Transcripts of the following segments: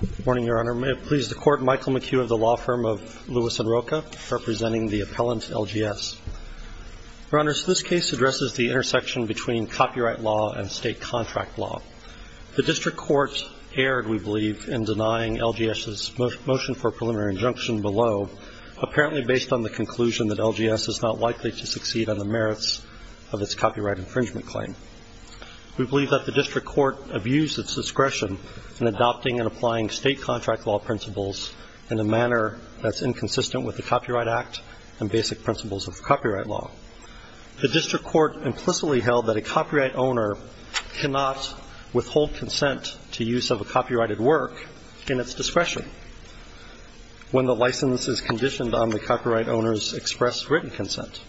Good morning, Your Honor. May it please the Court, Michael McHugh of the law firm of Lewis & Rocha, representing the appellant, LGS. Your Honors, this case addresses the intersection between copyright law and state contract law. The District Court erred, we believe, in denying LGS's motion for preliminary injunction below, apparently based on the conclusion that LGS is not likely to succeed on the merits of its copyright infringement claim. We believe that the District Court abused its discretion in adopting and applying state contract law principles in a manner that's inconsistent with the Copyright Act and basic principles of copyright law. The District Court implicitly held that a copyright owner cannot withhold consent to use of a copyrighted work in its discretion when the license is conditioned on the copyright owner's express written consent.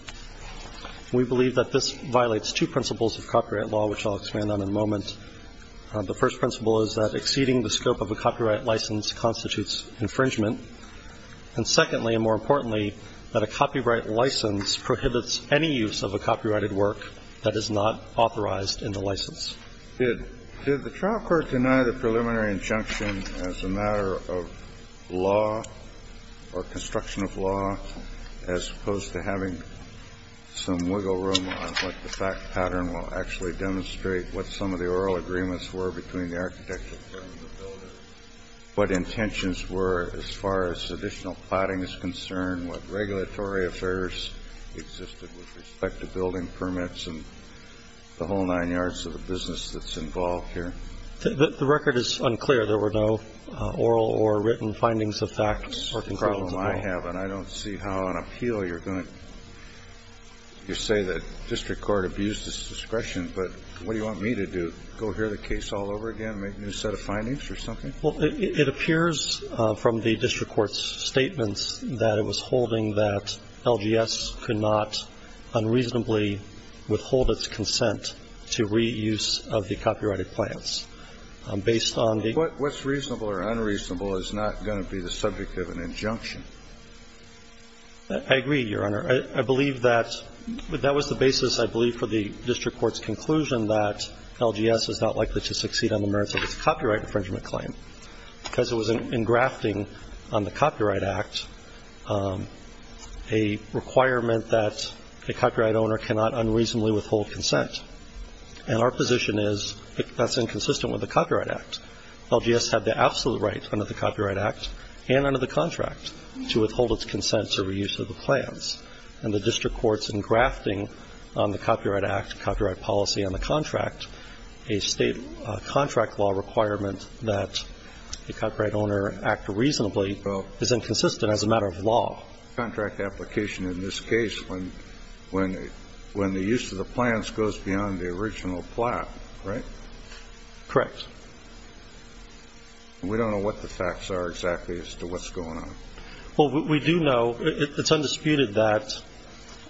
We believe that this violates two principles of copyright law, which I'll expand on in a moment. The first principle is that exceeding the scope of a copyright license constitutes infringement. And secondly, and more importantly, that a copyright license prohibits any use of a copyrighted work that is not authorized in the license. Did the trial court deny the preliminary injunction as a matter of law or construction of law, as opposed to having some wiggle room on what the fact pattern will actually demonstrate, what some of the oral agreements were between the architect and the builder, what intentions were as far as additional plotting is concerned, what regulatory affairs existed with respect to building permits and the whole nine yards of the business that's involved here? The record is unclear. There were no oral or written findings of facts or conclusions at all. That's the problem I have, and I don't see how on appeal you're going to say that the District Court abused its discretion. But what do you want me to do, go hear the case all over again, make a new set of findings or something? Well, it appears from the District Court's statements that it was holding that LGS could not unreasonably withhold its consent to reuse of the copyrighted plans based on the ---- What's reasonable or unreasonable is not going to be the subject of an injunction. I agree, Your Honor. I believe that that was the basis, I believe, for the District Court's conclusion that LGS is not likely to succeed on the merits of its copyright infringement claim because it was engrafting on the Copyright Act a requirement that a copyright owner cannot unreasonably withhold consent. And our position is that's inconsistent with the Copyright Act. LGS had the absolute right under the Copyright Act and under the contract to withhold its consent to reuse of the plans. And the District Court's engrafting on the Copyright Act, copyright policy on the contract, a state contract law requirement that a copyright owner act reasonably is inconsistent as a matter of law. Contract application in this case, when the use of the plans goes beyond the original plot, right? Correct. We don't know what the facts are exactly as to what's going on. Well, we do know, it's undisputed that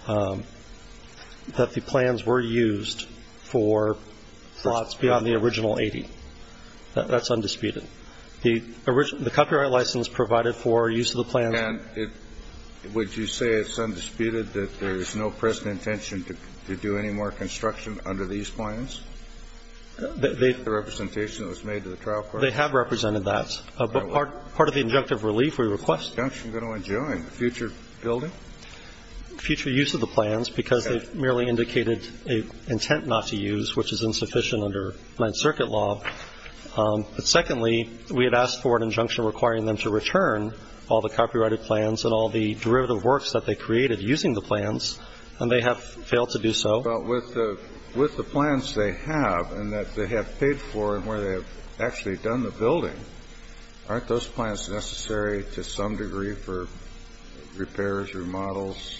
the plans were used for plots beyond the original 80. That's undisputed. The copyright license provided for use of the plans. And would you say it's undisputed that there's no present intention to do any more construction under these plans? The representation that was made to the trial court? They have represented that. But part of the injunctive relief we request. Is the injunction going to enjoin future building? Future use of the plans, because it merely indicated an intent not to use, which is insufficient under Ninth Circuit law. But secondly, we had asked for an injunction requiring them to return all the copyrighted plans and all the derivative works that they created using the plans, and they have failed to do so. But with the plans they have and that they have paid for and where they have actually done the building, aren't those plans necessary to some degree for repairs, remodels,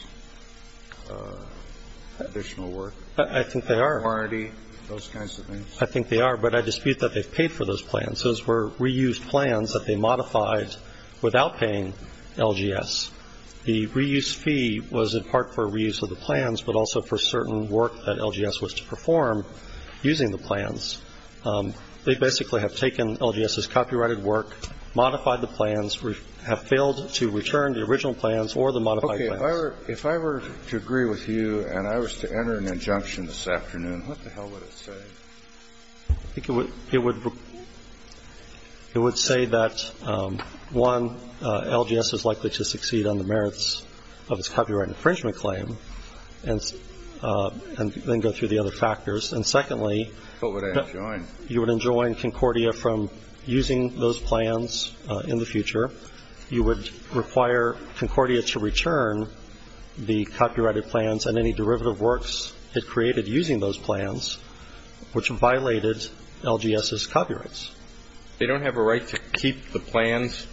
additional work? I think they are. Warranty, those kinds of things? I think they are, but I dispute that they've paid for those plans. Those were reused plans that they modified without paying LGS. The reuse fee was in part for reuse of the plans, but also for certain work that LGS was to perform using the plans. They basically have taken LGS's copyrighted work, modified the plans, have failed to return the original plans or the modified plans. Okay. If I were to agree with you and I was to enter an injunction this afternoon, what the hell would it say? I think it would say that, one, LGS is likely to succeed on the merits of its copyright infringement claim and then go through the other factors. And secondly, you would enjoin Concordia from using those plans in the future. You would require Concordia to return the copyrighted plans and any derivative works it created using those plans, which violated LGS's copyrights. They don't have a right to keep the plans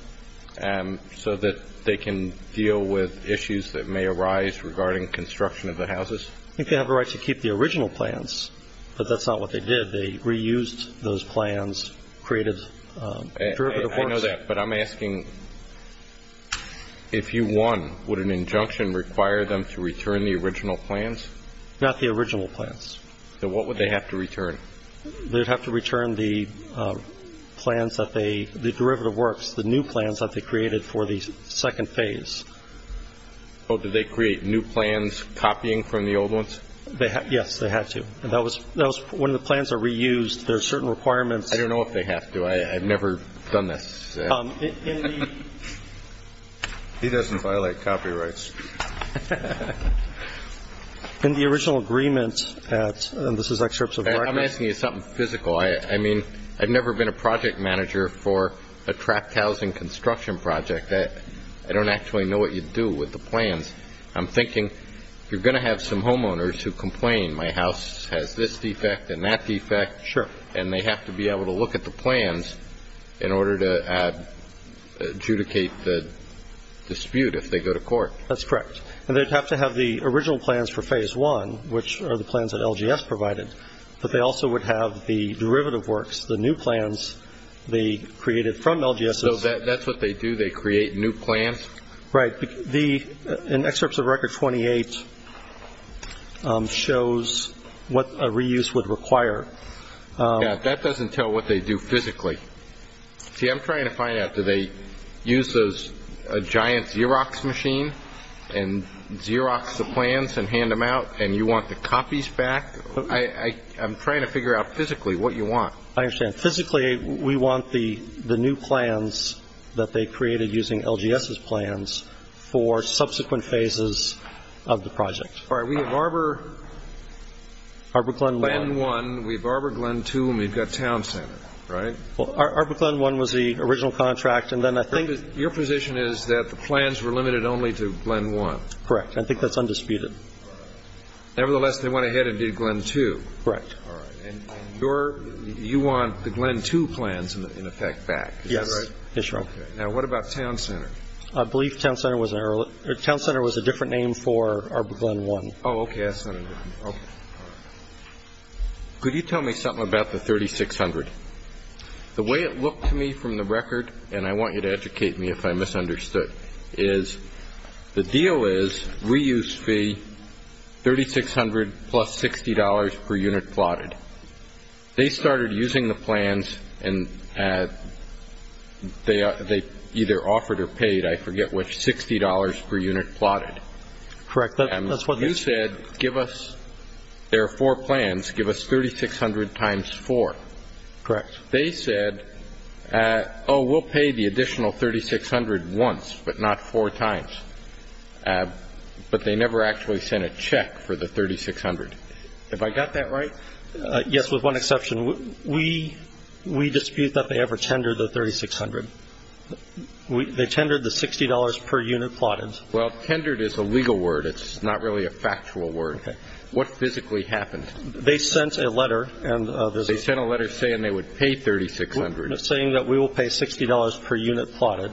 so that they can deal with issues that may arise regarding construction of the houses? I think they have a right to keep the original plans, but that's not what they did. I know that, but I'm asking, if you won, would an injunction require them to return the original plans? Not the original plans. So what would they have to return? They'd have to return the plans that they, the derivative works, the new plans that they created for the second phase. Oh, did they create new plans copying from the old ones? Yes, they had to. When the plans are reused, there are certain requirements. I don't know if they have to. I've never done this. He doesn't violate copyrights. In the original agreement at, and this is excerpts of documents. I'm asking you something physical. I mean, I've never been a project manager for a trapped housing construction project. I don't actually know what you do with the plans. I'm thinking, you're going to have some homeowners who complain my house has this defect and that defect. Sure. And they have to be able to look at the plans in order to adjudicate the dispute if they go to court. That's correct. And they'd have to have the original plans for phase one, which are the plans that LGS provided. But they also would have the derivative works, the new plans they created from LGS. So that's what they do? They create new plans? Right. In excerpts of record 28 shows what a reuse would require. That doesn't tell what they do physically. See, I'm trying to find out. Do they use a giant Xerox machine and Xerox the plans and hand them out, and you want the copies back? I'm trying to figure out physically what you want. I understand. Physically, we want the new plans that they created using LGS's plans for subsequent phases of the project. All right. We have Arbor. Arbor Glen 1. Glen 1. We have Arbor Glen 2, and we've got Town Center, right? Well, Arbor Glen 1 was the original contract, and then I think the — Your position is that the plans were limited only to Glen 1. Correct. I think that's undisputed. Nevertheless, they went ahead and did Glen 2. Correct. All right. And you want the Glen 2 plans, in effect, back. Yes. Is that right? That's right. Okay. Now, what about Town Center? I believe Town Center was a different name for Arbor Glen 1. Oh, okay. I see. All right. Could you tell me something about the $3,600? The way it looked to me from the record, and I want you to educate me if I misunderstood, is the deal is, reuse fee, $3,600 plus $60 per unit plotted. They started using the plans, and they either offered or paid, I forget which, $60 per unit plotted. Correct. That's what they said. And you said, give us — there are four plans. Give us $3,600 times four. Correct. They said, oh, we'll pay the additional $3,600 once, but not four times. But they never actually sent a check for the $3,600. Have I got that right? Yes, with one exception. We dispute that they ever tendered the $3,600. They tendered the $60 per unit plotted. Well, tendered is a legal word. It's not really a factual word. What physically happened? They sent a letter. They sent a letter saying they would pay $3,600. Saying that we will pay $60 per unit plotted.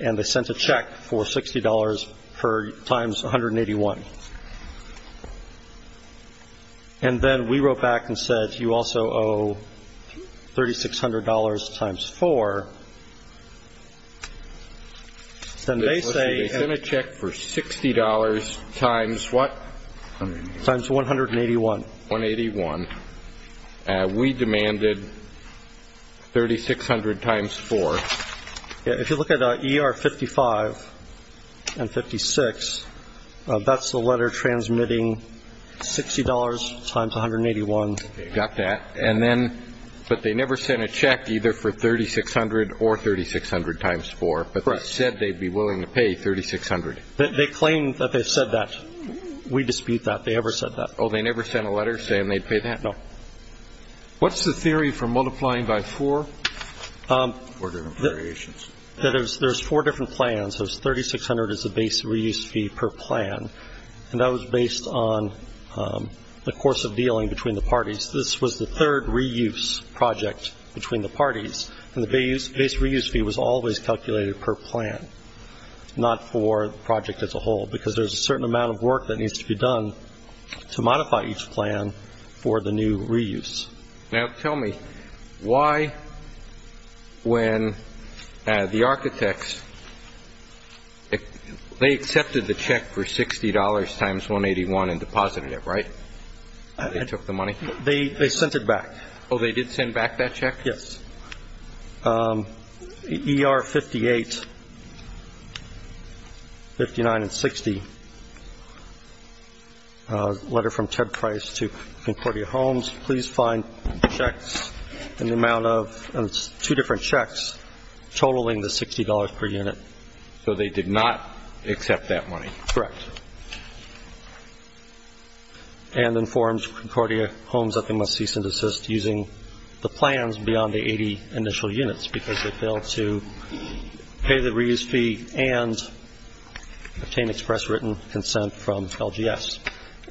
And they sent a check for $60 times 181. And then we wrote back and said, you also owe $3,600 times four. They sent a check for $60 times what? Times 181. 181. We demanded $3,600 times four. If you look at ER 55 and 56, that's the letter transmitting $60 times 181. Got that. And then, but they never sent a check either for $3,600 or $3,600 times four. Correct. But they said they'd be willing to pay $3,600. They claim that they said that. We dispute that they ever said that. Oh, they never sent a letter saying they'd pay that? No. What's the theory for multiplying by four? Four different variations. There's four different plans. There's $3,600 as a base reuse fee per plan. And that was based on the course of dealing between the parties. This was the third reuse project between the parties. And the base reuse fee was always calculated per plan, not for the project as a whole, because there's a certain amount of work that needs to be done to modify each plan for the new reuse. Now, tell me, why when the architects, they accepted the check for $60 times 181 and deposited it, right? They took the money? They sent it back. Oh, they did send back that check? Yes. ER 58, 59, and 60, letter from Ted Price to Concordia Homes, please find checks in the amount of two different checks totaling the $60 per unit. So they did not accept that money? Correct. And informed Concordia Homes that they must cease and desist using the plans beyond the 80 initial units, because they failed to pay the reuse fee and obtain express written consent from LGS.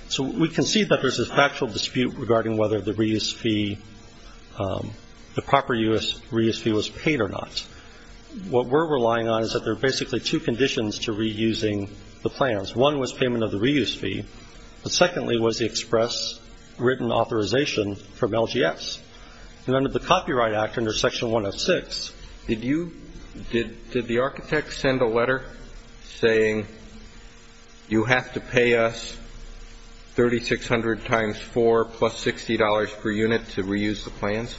So we can see that there's a factual dispute regarding whether the reuse fee, the proper reuse fee was paid or not. What we're relying on is that there are basically two conditions to reusing the plans. One was payment of the reuse fee, but secondly was the express written authorization from LGS. And under the Copyright Act, under Section 106. Did the architects send a letter saying, you have to pay us $3,600 times four plus $60 per unit to reuse the plans?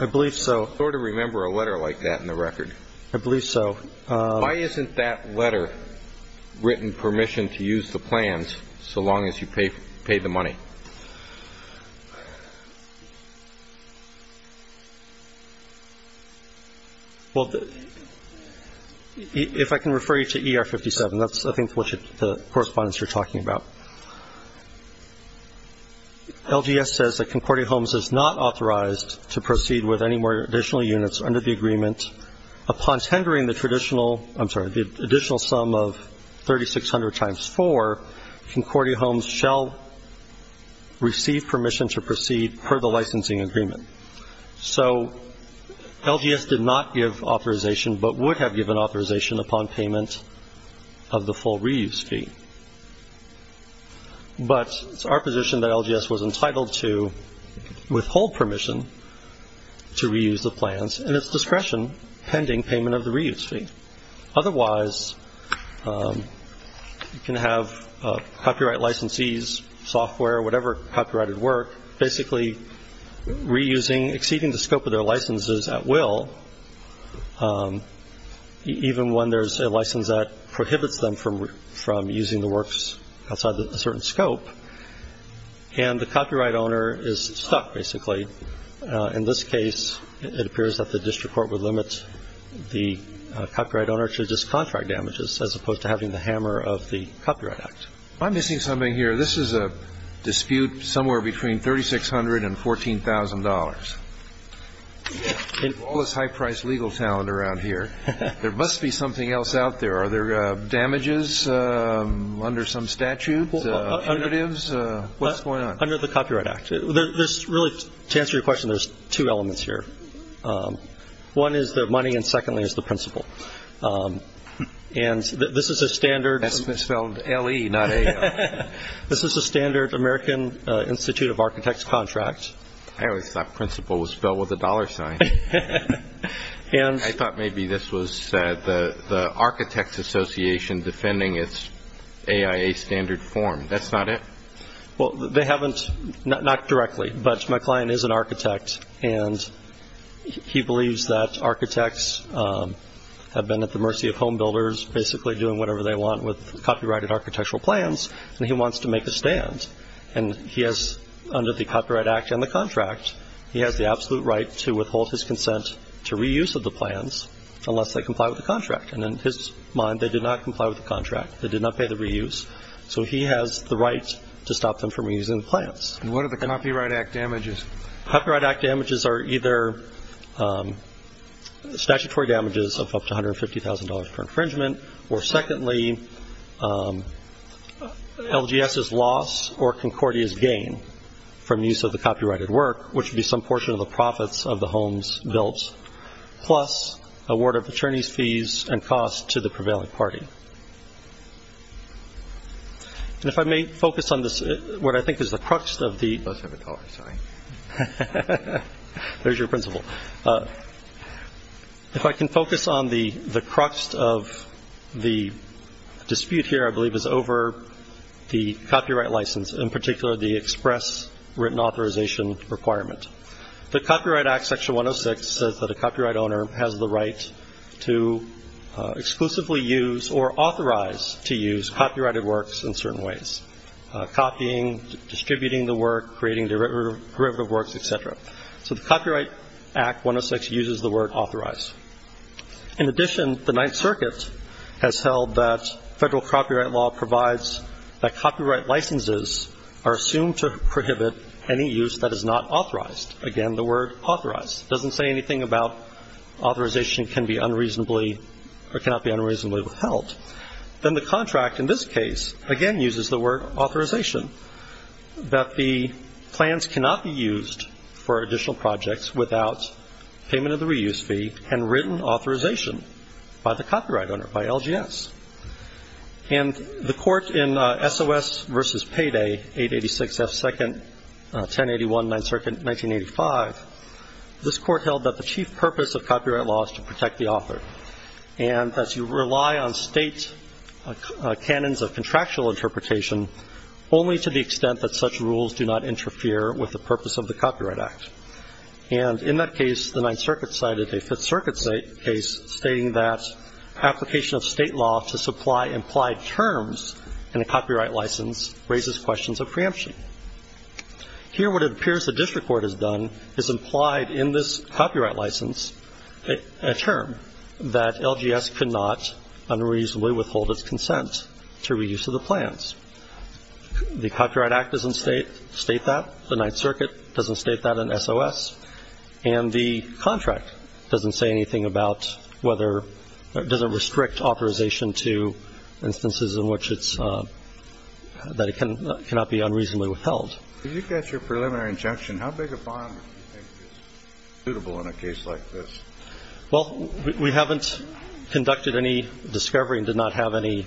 I believe so. I sort of remember a letter like that in the record. I believe so. Why isn't that letter written permission to use the plans so long as you pay the money? Well, if I can refer you to ER 57. That's I think what the correspondence you're talking about. LGS says that Concordia Homes is not authorized to proceed with any more additional units under the agreement upon tendering the additional sum of $3,600 times four, Concordia Homes shall receive permission to proceed per the licensing agreement. So LGS did not give authorization but would have given authorization upon payment of the full reuse fee. But it's our position that LGS was entitled to withhold permission to reuse the plans and its discretion pending payment of the reuse fee. Otherwise, you can have copyright licensees, software, whatever copyrighted work, basically reusing, exceeding the scope of their licenses at will, even when there's a license that prohibits them from using the works outside a certain scope. And the copyright owner is stuck, basically. In this case, it appears that the district court would limit the copyright owner to just contract damages as opposed to having the hammer of the Copyright Act. I'm missing something here. This is a dispute somewhere between $3,600 and $14,000. In all this high-priced legal talent around here, there must be something else out there. Are there damages under some statute? What's going on? Under the Copyright Act. Really, to answer your question, there's two elements here. One is the money and, secondly, is the principal. And this is a standard. That's misspelled L-E, not A-L. This is a standard American Institute of Architects contract. I always thought principal was spelled with a dollar sign. I thought maybe this was the Architects Association defending its AIA standard form. That's not it? Well, they haven't, not directly, but my client is an architect, and he believes that architects have been at the mercy of home builders, basically doing whatever they want with copyrighted architectural plans, and he wants to make a stand. And he has, under the Copyright Act and the contract, he has the absolute right to withhold his consent to reuse of the plans unless they comply with the contract. And in his mind, they did not comply with the contract. They did not pay the reuse. So he has the right to stop them from reusing the plans. And what are the Copyright Act damages? Copyright Act damages are either statutory damages of up to $150,000 per infringement, or secondly, LGS's loss or Concordia's gain from use of the copyrighted work, which would be some portion of the profits of the homes built, plus award of attorney's fees and costs to the prevailing party. And if I may focus on this, what I think is the crux of the – I must have a dollar sign. There's your principal. If I can focus on the crux of the dispute here, I believe, is over the copyright license, in particular the express written authorization requirement. The Copyright Act, Section 106, says that a copyright owner has the right to exclusively use or authorize to use copyrighted works in certain ways, copying, distributing the work, creating derivative works, et cetera. So the Copyright Act, 106, uses the word authorize. In addition, the Ninth Circuit has held that federal copyright law provides that copyright licenses are assumed to prohibit any use that is not authorized. Again, the word authorize doesn't say anything about authorization can be unreasonably or cannot be unreasonably withheld. Then the contract in this case, again, uses the word authorization, that the plans cannot be used for additional projects without payment of the reuse fee and written authorization by the copyright owner, by LGS. And the court in S.O.S. v. Payday, 886 F. 2nd, 1081, Ninth Circuit, 1985, this court held that the chief purpose of copyright law is to protect the author and that you rely on state canons of contractual interpretation only to the extent that such rules do not interfere with the purpose of the Copyright Act. And in that case, the Ninth Circuit cited a Fifth Circuit case stating that application of state law to supply implied terms in a copyright license raises questions of preemption. Here what it appears the district court has done is implied in this copyright license a term that LGS cannot unreasonably withhold its consent to reuse of the plans. The Copyright Act doesn't state that. The Ninth Circuit doesn't state that in S.O.S. And the contract doesn't say anything about whether or doesn't restrict authorization to instances in which it's – that it cannot be unreasonably withheld. If you catch a preliminary injunction, how big a bond do you think is suitable in a case like this? Well, we haven't conducted any discovery and did not have any,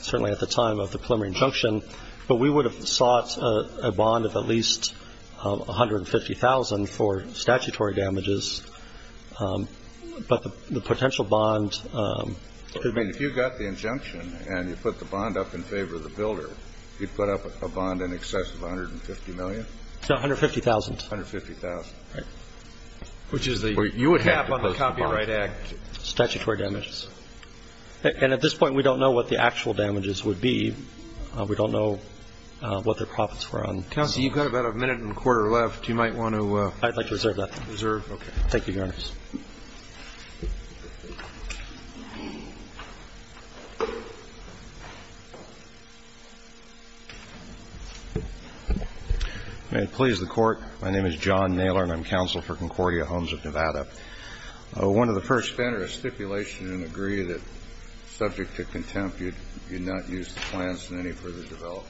certainly at the time of the preliminary injunction. But we would have sought a bond of at least $150,000 for statutory damages. But the potential bond could be – I mean, if you got the injunction and you put the bond up in favor of the builder, you'd put up a bond in excess of $150 million? No, $150,000. $150,000. Right. Which is the cap on the Copyright Act. Statutory damages. And at this point, we don't know what the actual damages would be. We don't know what their profits were on. Counsel, you've got about a minute and a quarter left. You might want to – I'd like to reserve that. Reserve. Okay. Thank you, Your Honor. May it please the Court. My name is John Naylor, and I'm counsel for Concordia Homes of Nevada. One of the first – If you enter a stipulation and agree that subject to contempt, you'd not use the plans in any further development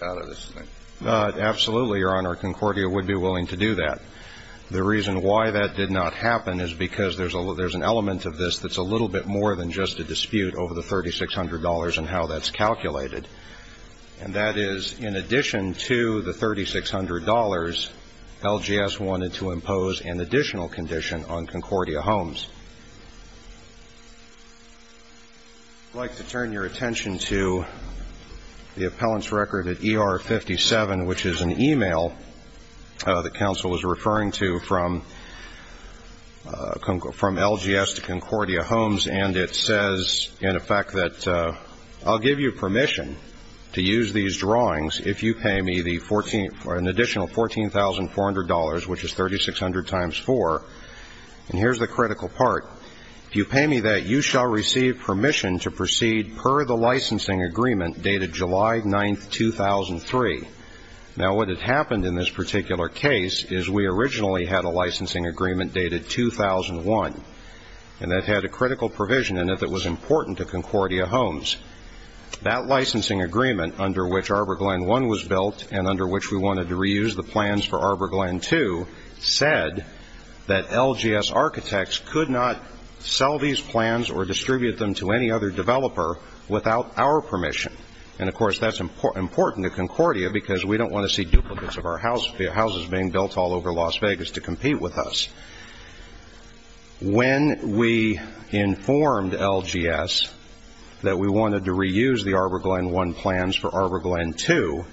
out of this thing. Absolutely, Your Honor. Concordia would be willing to do that. The reason why that did not happen is because there's an element of this that's a little bit more than just a dispute over the $3,600 and how that's calculated. And that is, in addition to the $3,600, LGS wanted to impose an additional condition on Concordia Homes. I'd like to turn your attention to the appellant's record at ER-57, which is an email that counsel was referring to from LGS to Concordia Homes, and it says, in effect, that I'll give you permission to use these drawings if you pay me an additional $14,400, which is 3,600 times 4. And here's the critical part. If you pay me that, you shall receive permission to proceed per the licensing agreement dated July 9, 2003. Now, what had happened in this particular case is we originally had a licensing agreement dated 2001, and that had a critical provision in it that was important to Concordia Homes. That licensing agreement, under which ArborGlen I was built and under which we wanted to reuse the plans for ArborGlen II, said that LGS architects could not sell these plans or distribute them to any other developer without our permission. And, of course, that's important to Concordia because we don't want to see duplicates of our houses being built all over Las Vegas to compete with us. When we informed LGS that we wanted to reuse the ArborGlen I plans for ArborGlen II,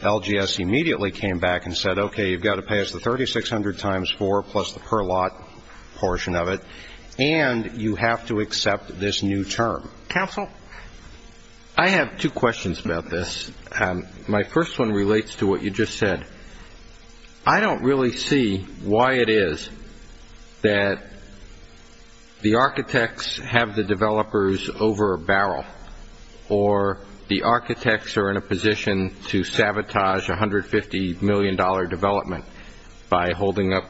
LGS immediately came back and said, okay, you've got to pay us the 3,600 times 4 plus the per lot portion of it, and you have to accept this new term. Council? I have two questions about this. My first one relates to what you just said. I don't really see why it is that the architects have the developers over a barrel or the architects are in a position to sabotage $150 million development by holding up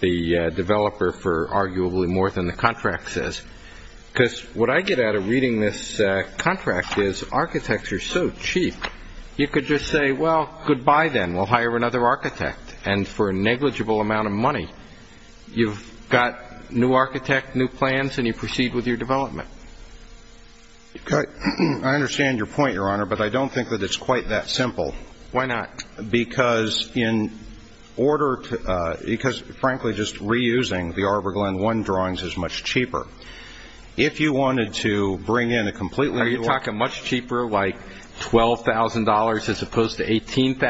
the developer for arguably more than the contract says. Because what I get out of reading this contract is architects are so cheap, you could just say, well, goodbye then, we'll hire another architect. And for a negligible amount of money, you've got new architect, new plans, and you proceed with your development. I understand your point, Your Honor, but I don't think that it's quite that simple. Why not? Because, frankly, just reusing the ArborGlen I drawings is much cheaper. If you wanted to bring in a completely new one. Are you talking much cheaper, like $12,000 as opposed to $18,000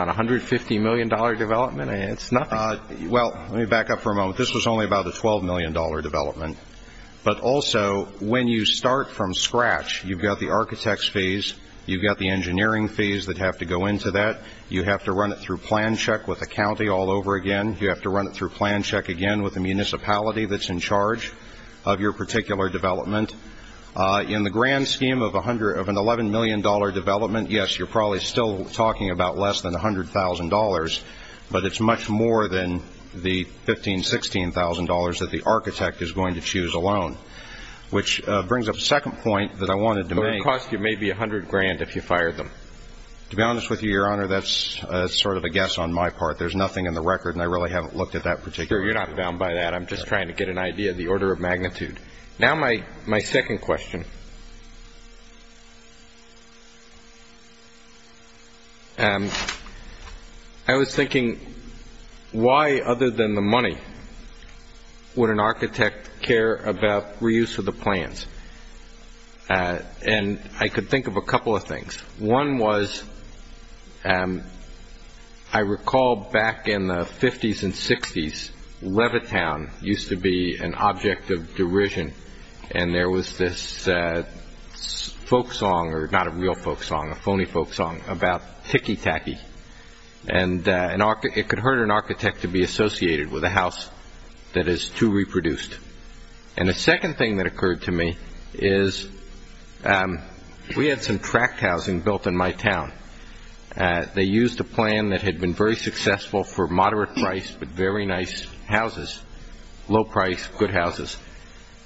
on $150 million development? It's nothing. Well, let me back up for a moment. This was only about a $12 million development. But also, when you start from scratch, you've got the architect's fees, you've got the engineering fees that have to go into that, you have to run it through plan check with the county all over again, you have to run it through plan check again with the municipality that's in charge of your particular development. In the grand scheme of an $11 million development, yes, you're probably still talking about less than $100,000, but it's much more than the $15,000, $16,000 that the architect is going to choose alone. Which brings up a second point that I wanted to make. It would cost you maybe $100,000 if you fired them. To be honest with you, Your Honor, that's sort of a guess on my part. There's nothing in the record, and I really haven't looked at that particular one. Sure, you're not bound by that. I'm just trying to get an idea of the order of magnitude. Now my second question. I was thinking, why other than the money would an architect care about reuse of the plans? And I could think of a couple of things. One was, I recall back in the 50s and 60s, Levittown used to be an object of derision, and there was this folk song, or not a real folk song, a phony folk song, about Ticky Tacky. And it could hurt an architect to be associated with a house that is too reproduced. And the second thing that occurred to me is we had some tract housing built in my town. They used a plan that had been very successful for moderate price but very nice houses, low price, good houses.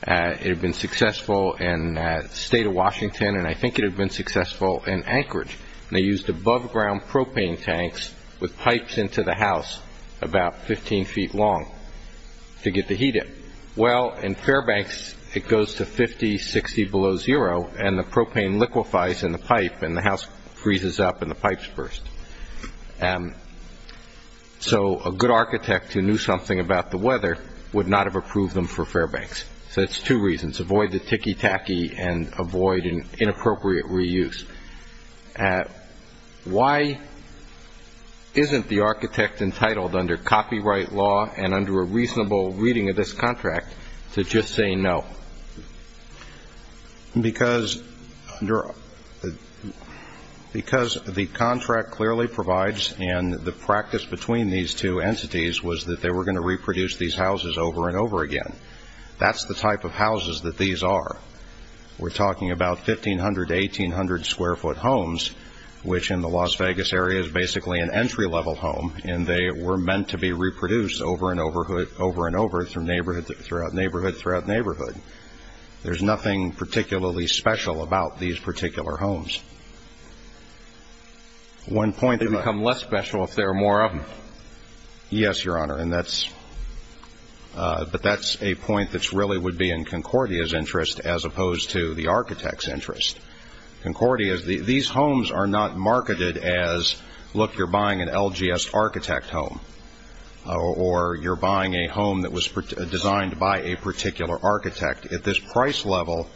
It had been successful in the state of Washington, and I think it had been successful in Anchorage. And they used above-ground propane tanks with pipes into the house about 15 feet long to get the heat in. Well, in Fairbanks, it goes to 50, 60 below zero, and the propane liquefies in the pipe, and the house freezes up and the pipes burst. So a good architect who knew something about the weather would not have approved them for Fairbanks. So that's two reasons, avoid the Ticky Tacky and avoid an inappropriate reuse. Why isn't the architect entitled under copyright law and under a reasonable reading of this contract to just say no? Because the contract clearly provides, and the practice between these two entities, was that they were going to reproduce these houses over and over again. That's the type of houses that these are. We're talking about 1,500 to 1,800-square-foot homes, which in the Las Vegas area is basically an entry-level home, and they were meant to be reproduced over and over and over throughout neighborhood throughout neighborhood. There's nothing particularly special about these particular homes. They become less special if there are more of them. Yes, Your Honor, but that's a point that really would be in Concordia's interest as opposed to the architect's interest. Concordia, these homes are not marketed as, look, you're buying an LGS architect home, or you're buying a home that was designed by a particular architect. At this price level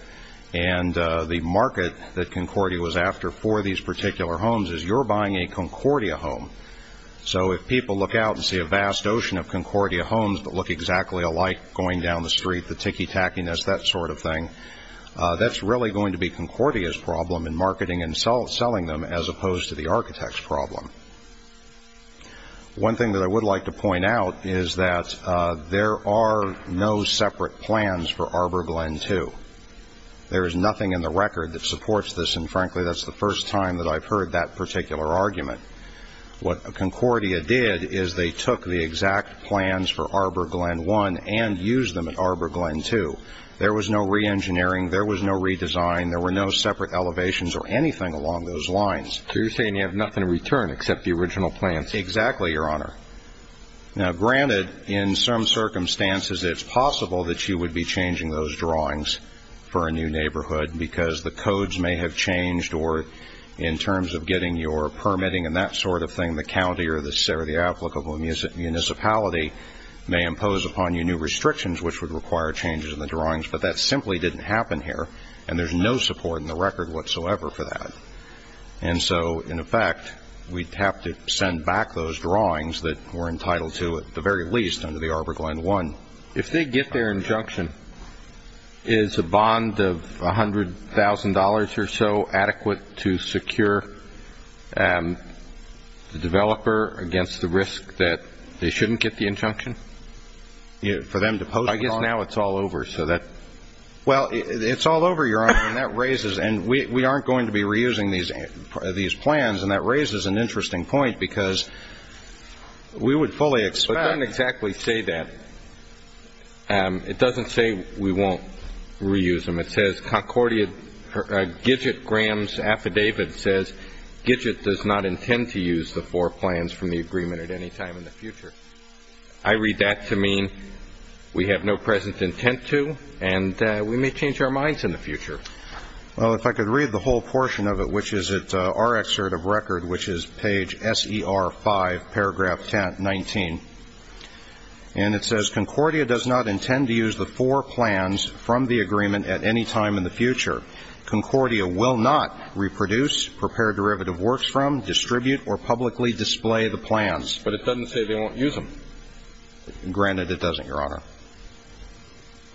and the market that Concordia was after for these particular homes is you're buying a Concordia home. So if people look out and see a vast ocean of Concordia homes that look exactly alike going down the street, the ticky-tackiness, that sort of thing, that's really going to be Concordia's problem in marketing and selling them as opposed to the architect's problem. One thing that I would like to point out is that there are no separate plans for Arbor Glen II. There is nothing in the record that supports this, and frankly, that's the first time that I've heard that particular argument. What Concordia did is they took the exact plans for Arbor Glen I and used them at Arbor Glen II. There was no reengineering. There was no redesign. There were no separate elevations or anything along those lines. So you're saying you have nothing to return except the original plans? Exactly, Your Honor. Now, granted, in some circumstances it's possible that you would be changing those drawings for a new neighborhood because the codes may have changed or in terms of getting your permitting and that sort of thing, the county or the applicable municipality may impose upon you new restrictions which would require changes in the drawings, but that simply didn't happen here, and there's no support in the record whatsoever for that. And so, in effect, we'd have to send back those drawings that were entitled to at the very least under the Arbor Glen I. If they get their injunction, is a bond of $100,000 or so adequate to secure the developer against the risk that they shouldn't get the injunction? For them to post the bond? I guess now it's all over. Well, it's all over, Your Honor, and that raises – and we aren't going to be reusing these plans, and that raises an interesting point because we would fully expect – It doesn't exactly say that. It doesn't say we won't reuse them. It says, Gidget Graham's affidavit says, Gidget does not intend to use the four plans from the agreement at any time in the future. I read that to mean we have no present intent to, and we may change our minds in the future. Well, if I could read the whole portion of it, which is our excerpt of record, which is page S.E.R. 5, paragraph 19, and it says, Concordia does not intend to use the four plans from the agreement at any time in the future. Concordia will not reproduce, prepare derivative works from, distribute, or publicly display the plans. But it doesn't say they won't use them. Granted, it doesn't, Your Honor.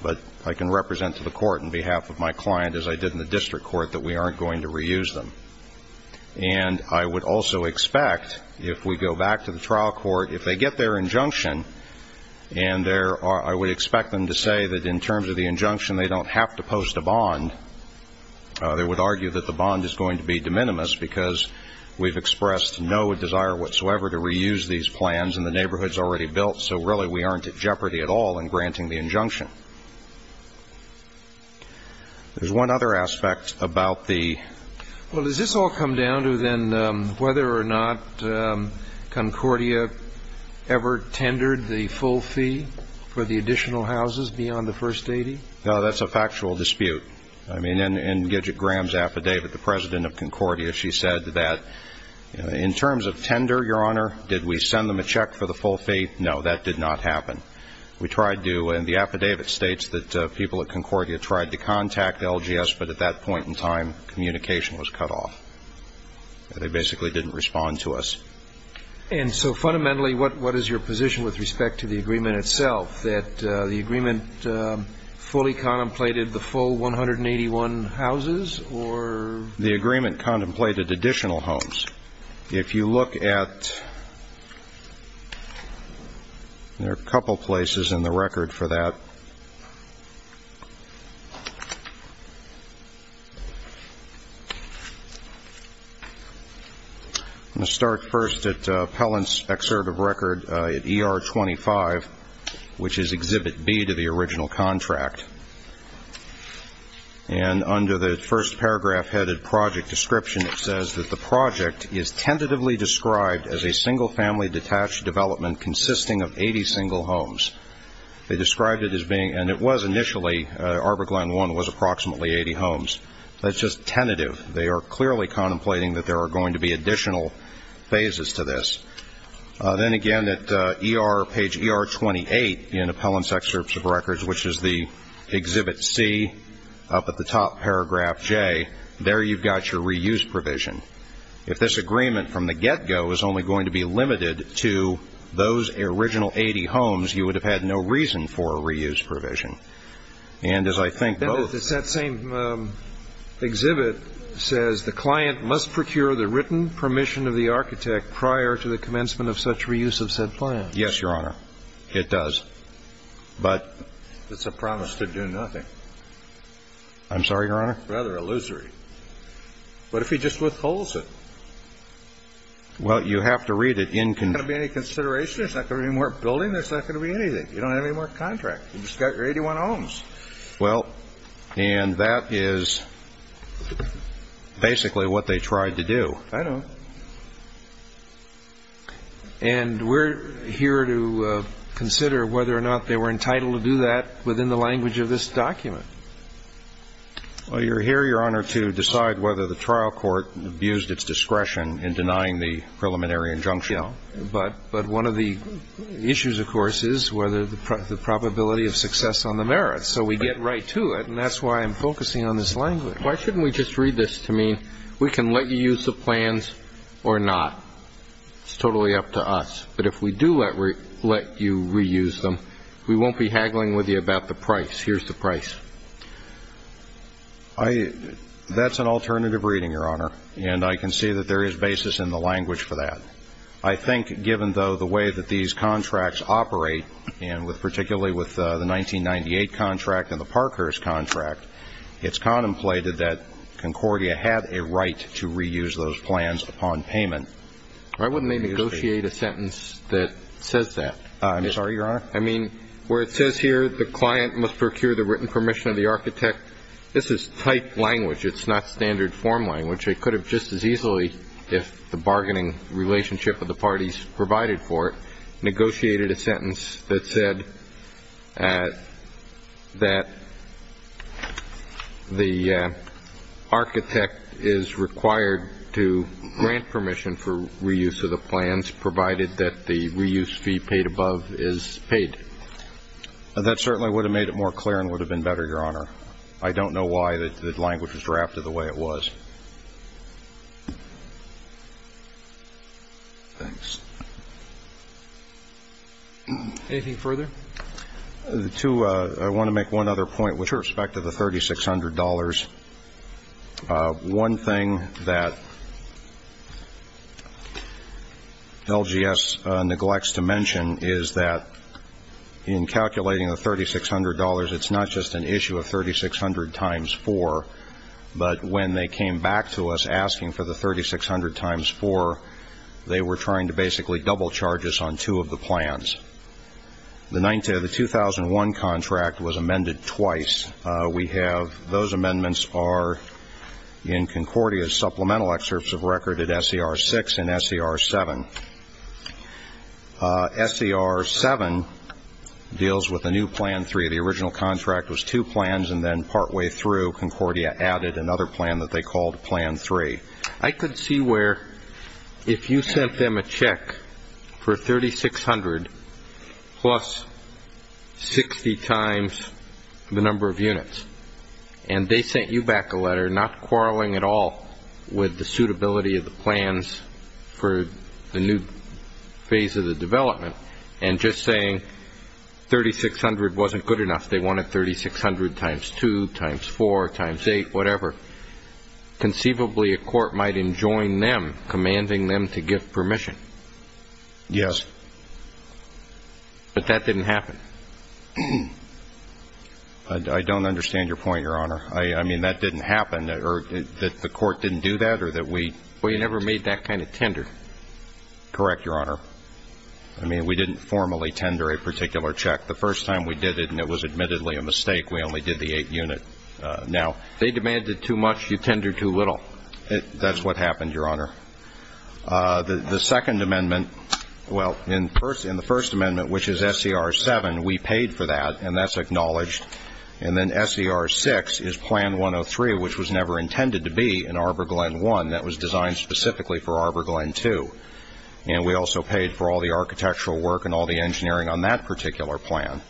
But I can represent to the court on behalf of my client, as I did in the district court, that we aren't going to reuse them. And I would also expect, if we go back to the trial court, if they get their injunction, and I would expect them to say that in terms of the injunction they don't have to post a bond, they would argue that the bond is going to be de minimis because we've expressed no desire whatsoever to reuse these plans, and the neighborhood's already built. So, really, we aren't at jeopardy at all in granting the injunction. There's one other aspect about the... Well, does this all come down to then whether or not Concordia ever tendered the full fee for the additional houses beyond the first 80? No, that's a factual dispute. I mean, in Gidget Graham's affidavit, the president of Concordia, she said that, in terms of tender, Your Honor, did we send them a check for the full fee? No, that did not happen. We tried to, and the affidavit states that people at Concordia tried to contact LGS, but at that point in time, communication was cut off. They basically didn't respond to us. And so, fundamentally, what is your position with respect to the agreement itself, that the agreement fully contemplated the full 181 houses, or...? The agreement contemplated additional homes. If you look at... There are a couple places in the record for that. I'm going to start first at Pellant's excerpt of record at ER 25, which is Exhibit B to the original contract. And under the first paragraph-headed project description, it says that the project is tentatively described as a single-family detached development consisting of 80 single homes. They described it as being, and it was initially, Arbor Glen 1 was approximately 80 homes. That's just tentative. They are clearly contemplating that there are going to be additional phases to this. Then, again, at ER, page ER 28 in Pellant's excerpts of records, which is the Exhibit C, up at the top, paragraph J, there you've got your reuse provision. If this agreement from the get-go is only going to be limited to those original 80 homes, you would have had no reason for a reuse provision. And as I think both... It's that same exhibit that says, the client must procure the written permission of the architect prior to the commencement of such reuse of said plan. Yes, Your Honor. It does. But... It's a promise to do nothing. I'm sorry, Your Honor? Rather illusory. What if he just withholds it? Well, you have to read it in... There's not going to be any consideration? There's not going to be any more building? There's not going to be anything? You don't have any more contract? You've just got your 81 homes. Well, and that is basically what they tried to do. I know. And we're here to consider whether or not they were entitled to do that within the language of this document. Well, you're here, Your Honor, to decide whether the trial court abused its discretion in denying the preliminary injunction. But one of the issues, of course, is whether the probability of success on the merits. So we get right to it, and that's why I'm focusing on this language. Why shouldn't we just read this to mean we can let you use the plans or not? It's totally up to us. But if we do let you reuse them, we won't be haggling with you about the price. Here's the price. That's an alternative reading, Your Honor, and I can see that there is basis in the language for that. I think, given, though, the way that these contracts operate, and particularly with the 1998 contract and the Parkhurst contract, it's contemplated that Concordia had a right to reuse those plans upon payment. Why wouldn't they negotiate a sentence that says that? I'm sorry, Your Honor? I mean, where it says here the client must procure the written permission of the architect, this is type language. It's not standard form language. They could have just as easily, if the bargaining relationship of the parties provided for it, negotiated a sentence that said that the architect is required to grant permission for reuse of the plans, provided that the reuse fee paid above is paid. That certainly would have made it more clear and would have been better, Your Honor. I don't know why the language was drafted the way it was. Thanks. Anything further? I want to make one other point with respect to the $3,600. One thing that LGS neglects to mention is that in calculating the $3,600, it's not just an issue of 3,600 times 4, but when they came back to us asking for the 3,600 times 4, they were trying to basically double charge us on two of the plans. The 2001 contract was amended twice. We have those amendments are in Concordia's supplemental excerpts of record at S.E.R. 6 and S.E.R. 7. S.E.R. 7 deals with a new Plan 3. The original contract was two plans, and then partway through, Concordia added another plan that they called Plan 3. I could see where if you sent them a check for 3,600 plus 60 times the number of units, and they sent you back a letter not quarreling at all with the suitability of the plans for the new phase of the development, and just saying 3,600 wasn't good enough. They wanted 3,600 times 2, times 4, times 8, whatever. Conceivably, a court might enjoin them, commanding them to give permission. Yes. But that didn't happen. I don't understand your point, Your Honor. I mean, that didn't happen, or that the court didn't do that, or that we – Well, you never made that kind of tender. Correct, Your Honor. I mean, we didn't formally tender a particular check. The first time we did it, and it was admittedly a mistake, we only did the 8 unit. They demanded too much. You tendered too little. That's what happened, Your Honor. The Second Amendment – well, in the First Amendment, which is SCR 7, we paid for that, and that's acknowledged. And then SCR 6 is Plan 103, which was never intended to be in Arbor Glen 1. That was designed specifically for Arbor Glen 2. And we also paid for all the architectural work and all the engineering on that particular plan.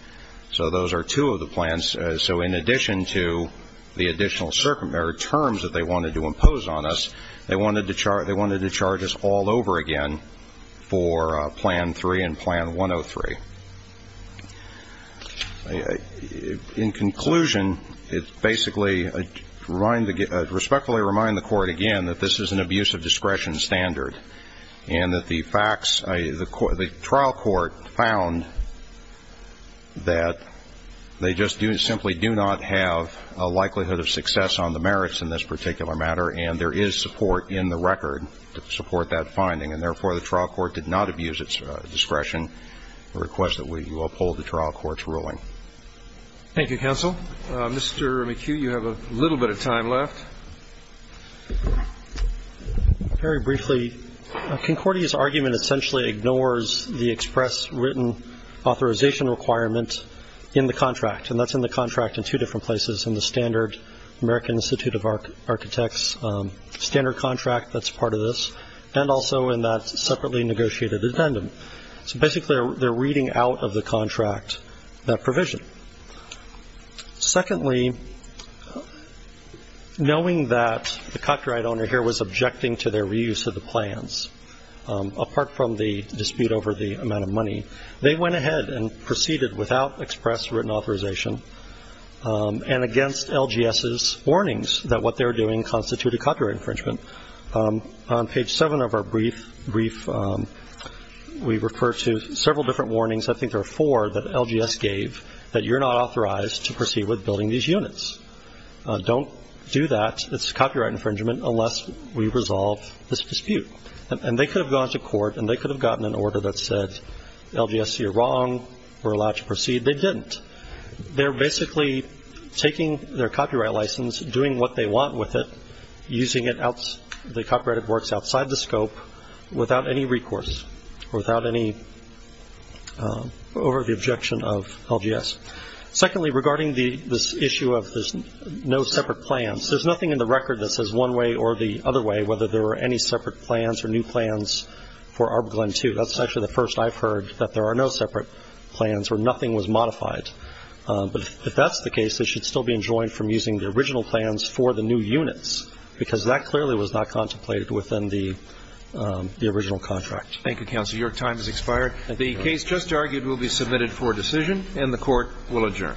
So those are two of the plans. So in addition to the additional terms that they wanted to impose on us, they wanted to charge us all over again for Plan 3 and Plan 103. In conclusion, it basically – I respectfully remind the court again that this is an abuse of discretion standard and that the facts – the trial court found that they just do – simply do not have a likelihood of success on the merits in this particular matter, and there is support in the record to support that finding. And, therefore, the trial court did not abuse its discretion to request that we uphold the trial court's ruling. Thank you, counsel. Mr. McHugh, you have a little bit of time left. Very briefly, Concordia's argument essentially ignores the express written authorization requirement in the contract, and that's in the contract in two different places, in the standard American Institute of Architects standard contract that's part of this, and also in that separately negotiated addendum. So, basically, they're reading out of the contract that provision. Secondly, knowing that the copyright owner here was objecting to their reuse of the plans, apart from the dispute over the amount of money, they went ahead and proceeded without express written authorization and against LGS's warnings that what they were doing constituted copyright infringement. On page 7 of our brief, we refer to several different warnings – I think there are four – that LGS gave that you're not authorized to proceed with building these units. Don't do that. It's copyright infringement unless we resolve this dispute. And they could have gone to court and they could have gotten an order that said, LGS, you're wrong. We're allowed to proceed. They didn't. They're basically taking their copyright license, doing what they want with it, using the copyrighted works outside the scope without any recourse, or without any – over the objection of LGS. Secondly, regarding this issue of there's no separate plans, there's nothing in the record that says one way or the other way whether there were any separate plans or new plans for ArbGlenn 2. That's actually the first I've heard that there are no separate plans or nothing was modified. But if that's the case, they should still be enjoined from using the original plans for the new units because that clearly was not contemplated within the original contract. Thank you, Counselor. Your time has expired. The case just argued will be submitted for decision and the Court will adjourn.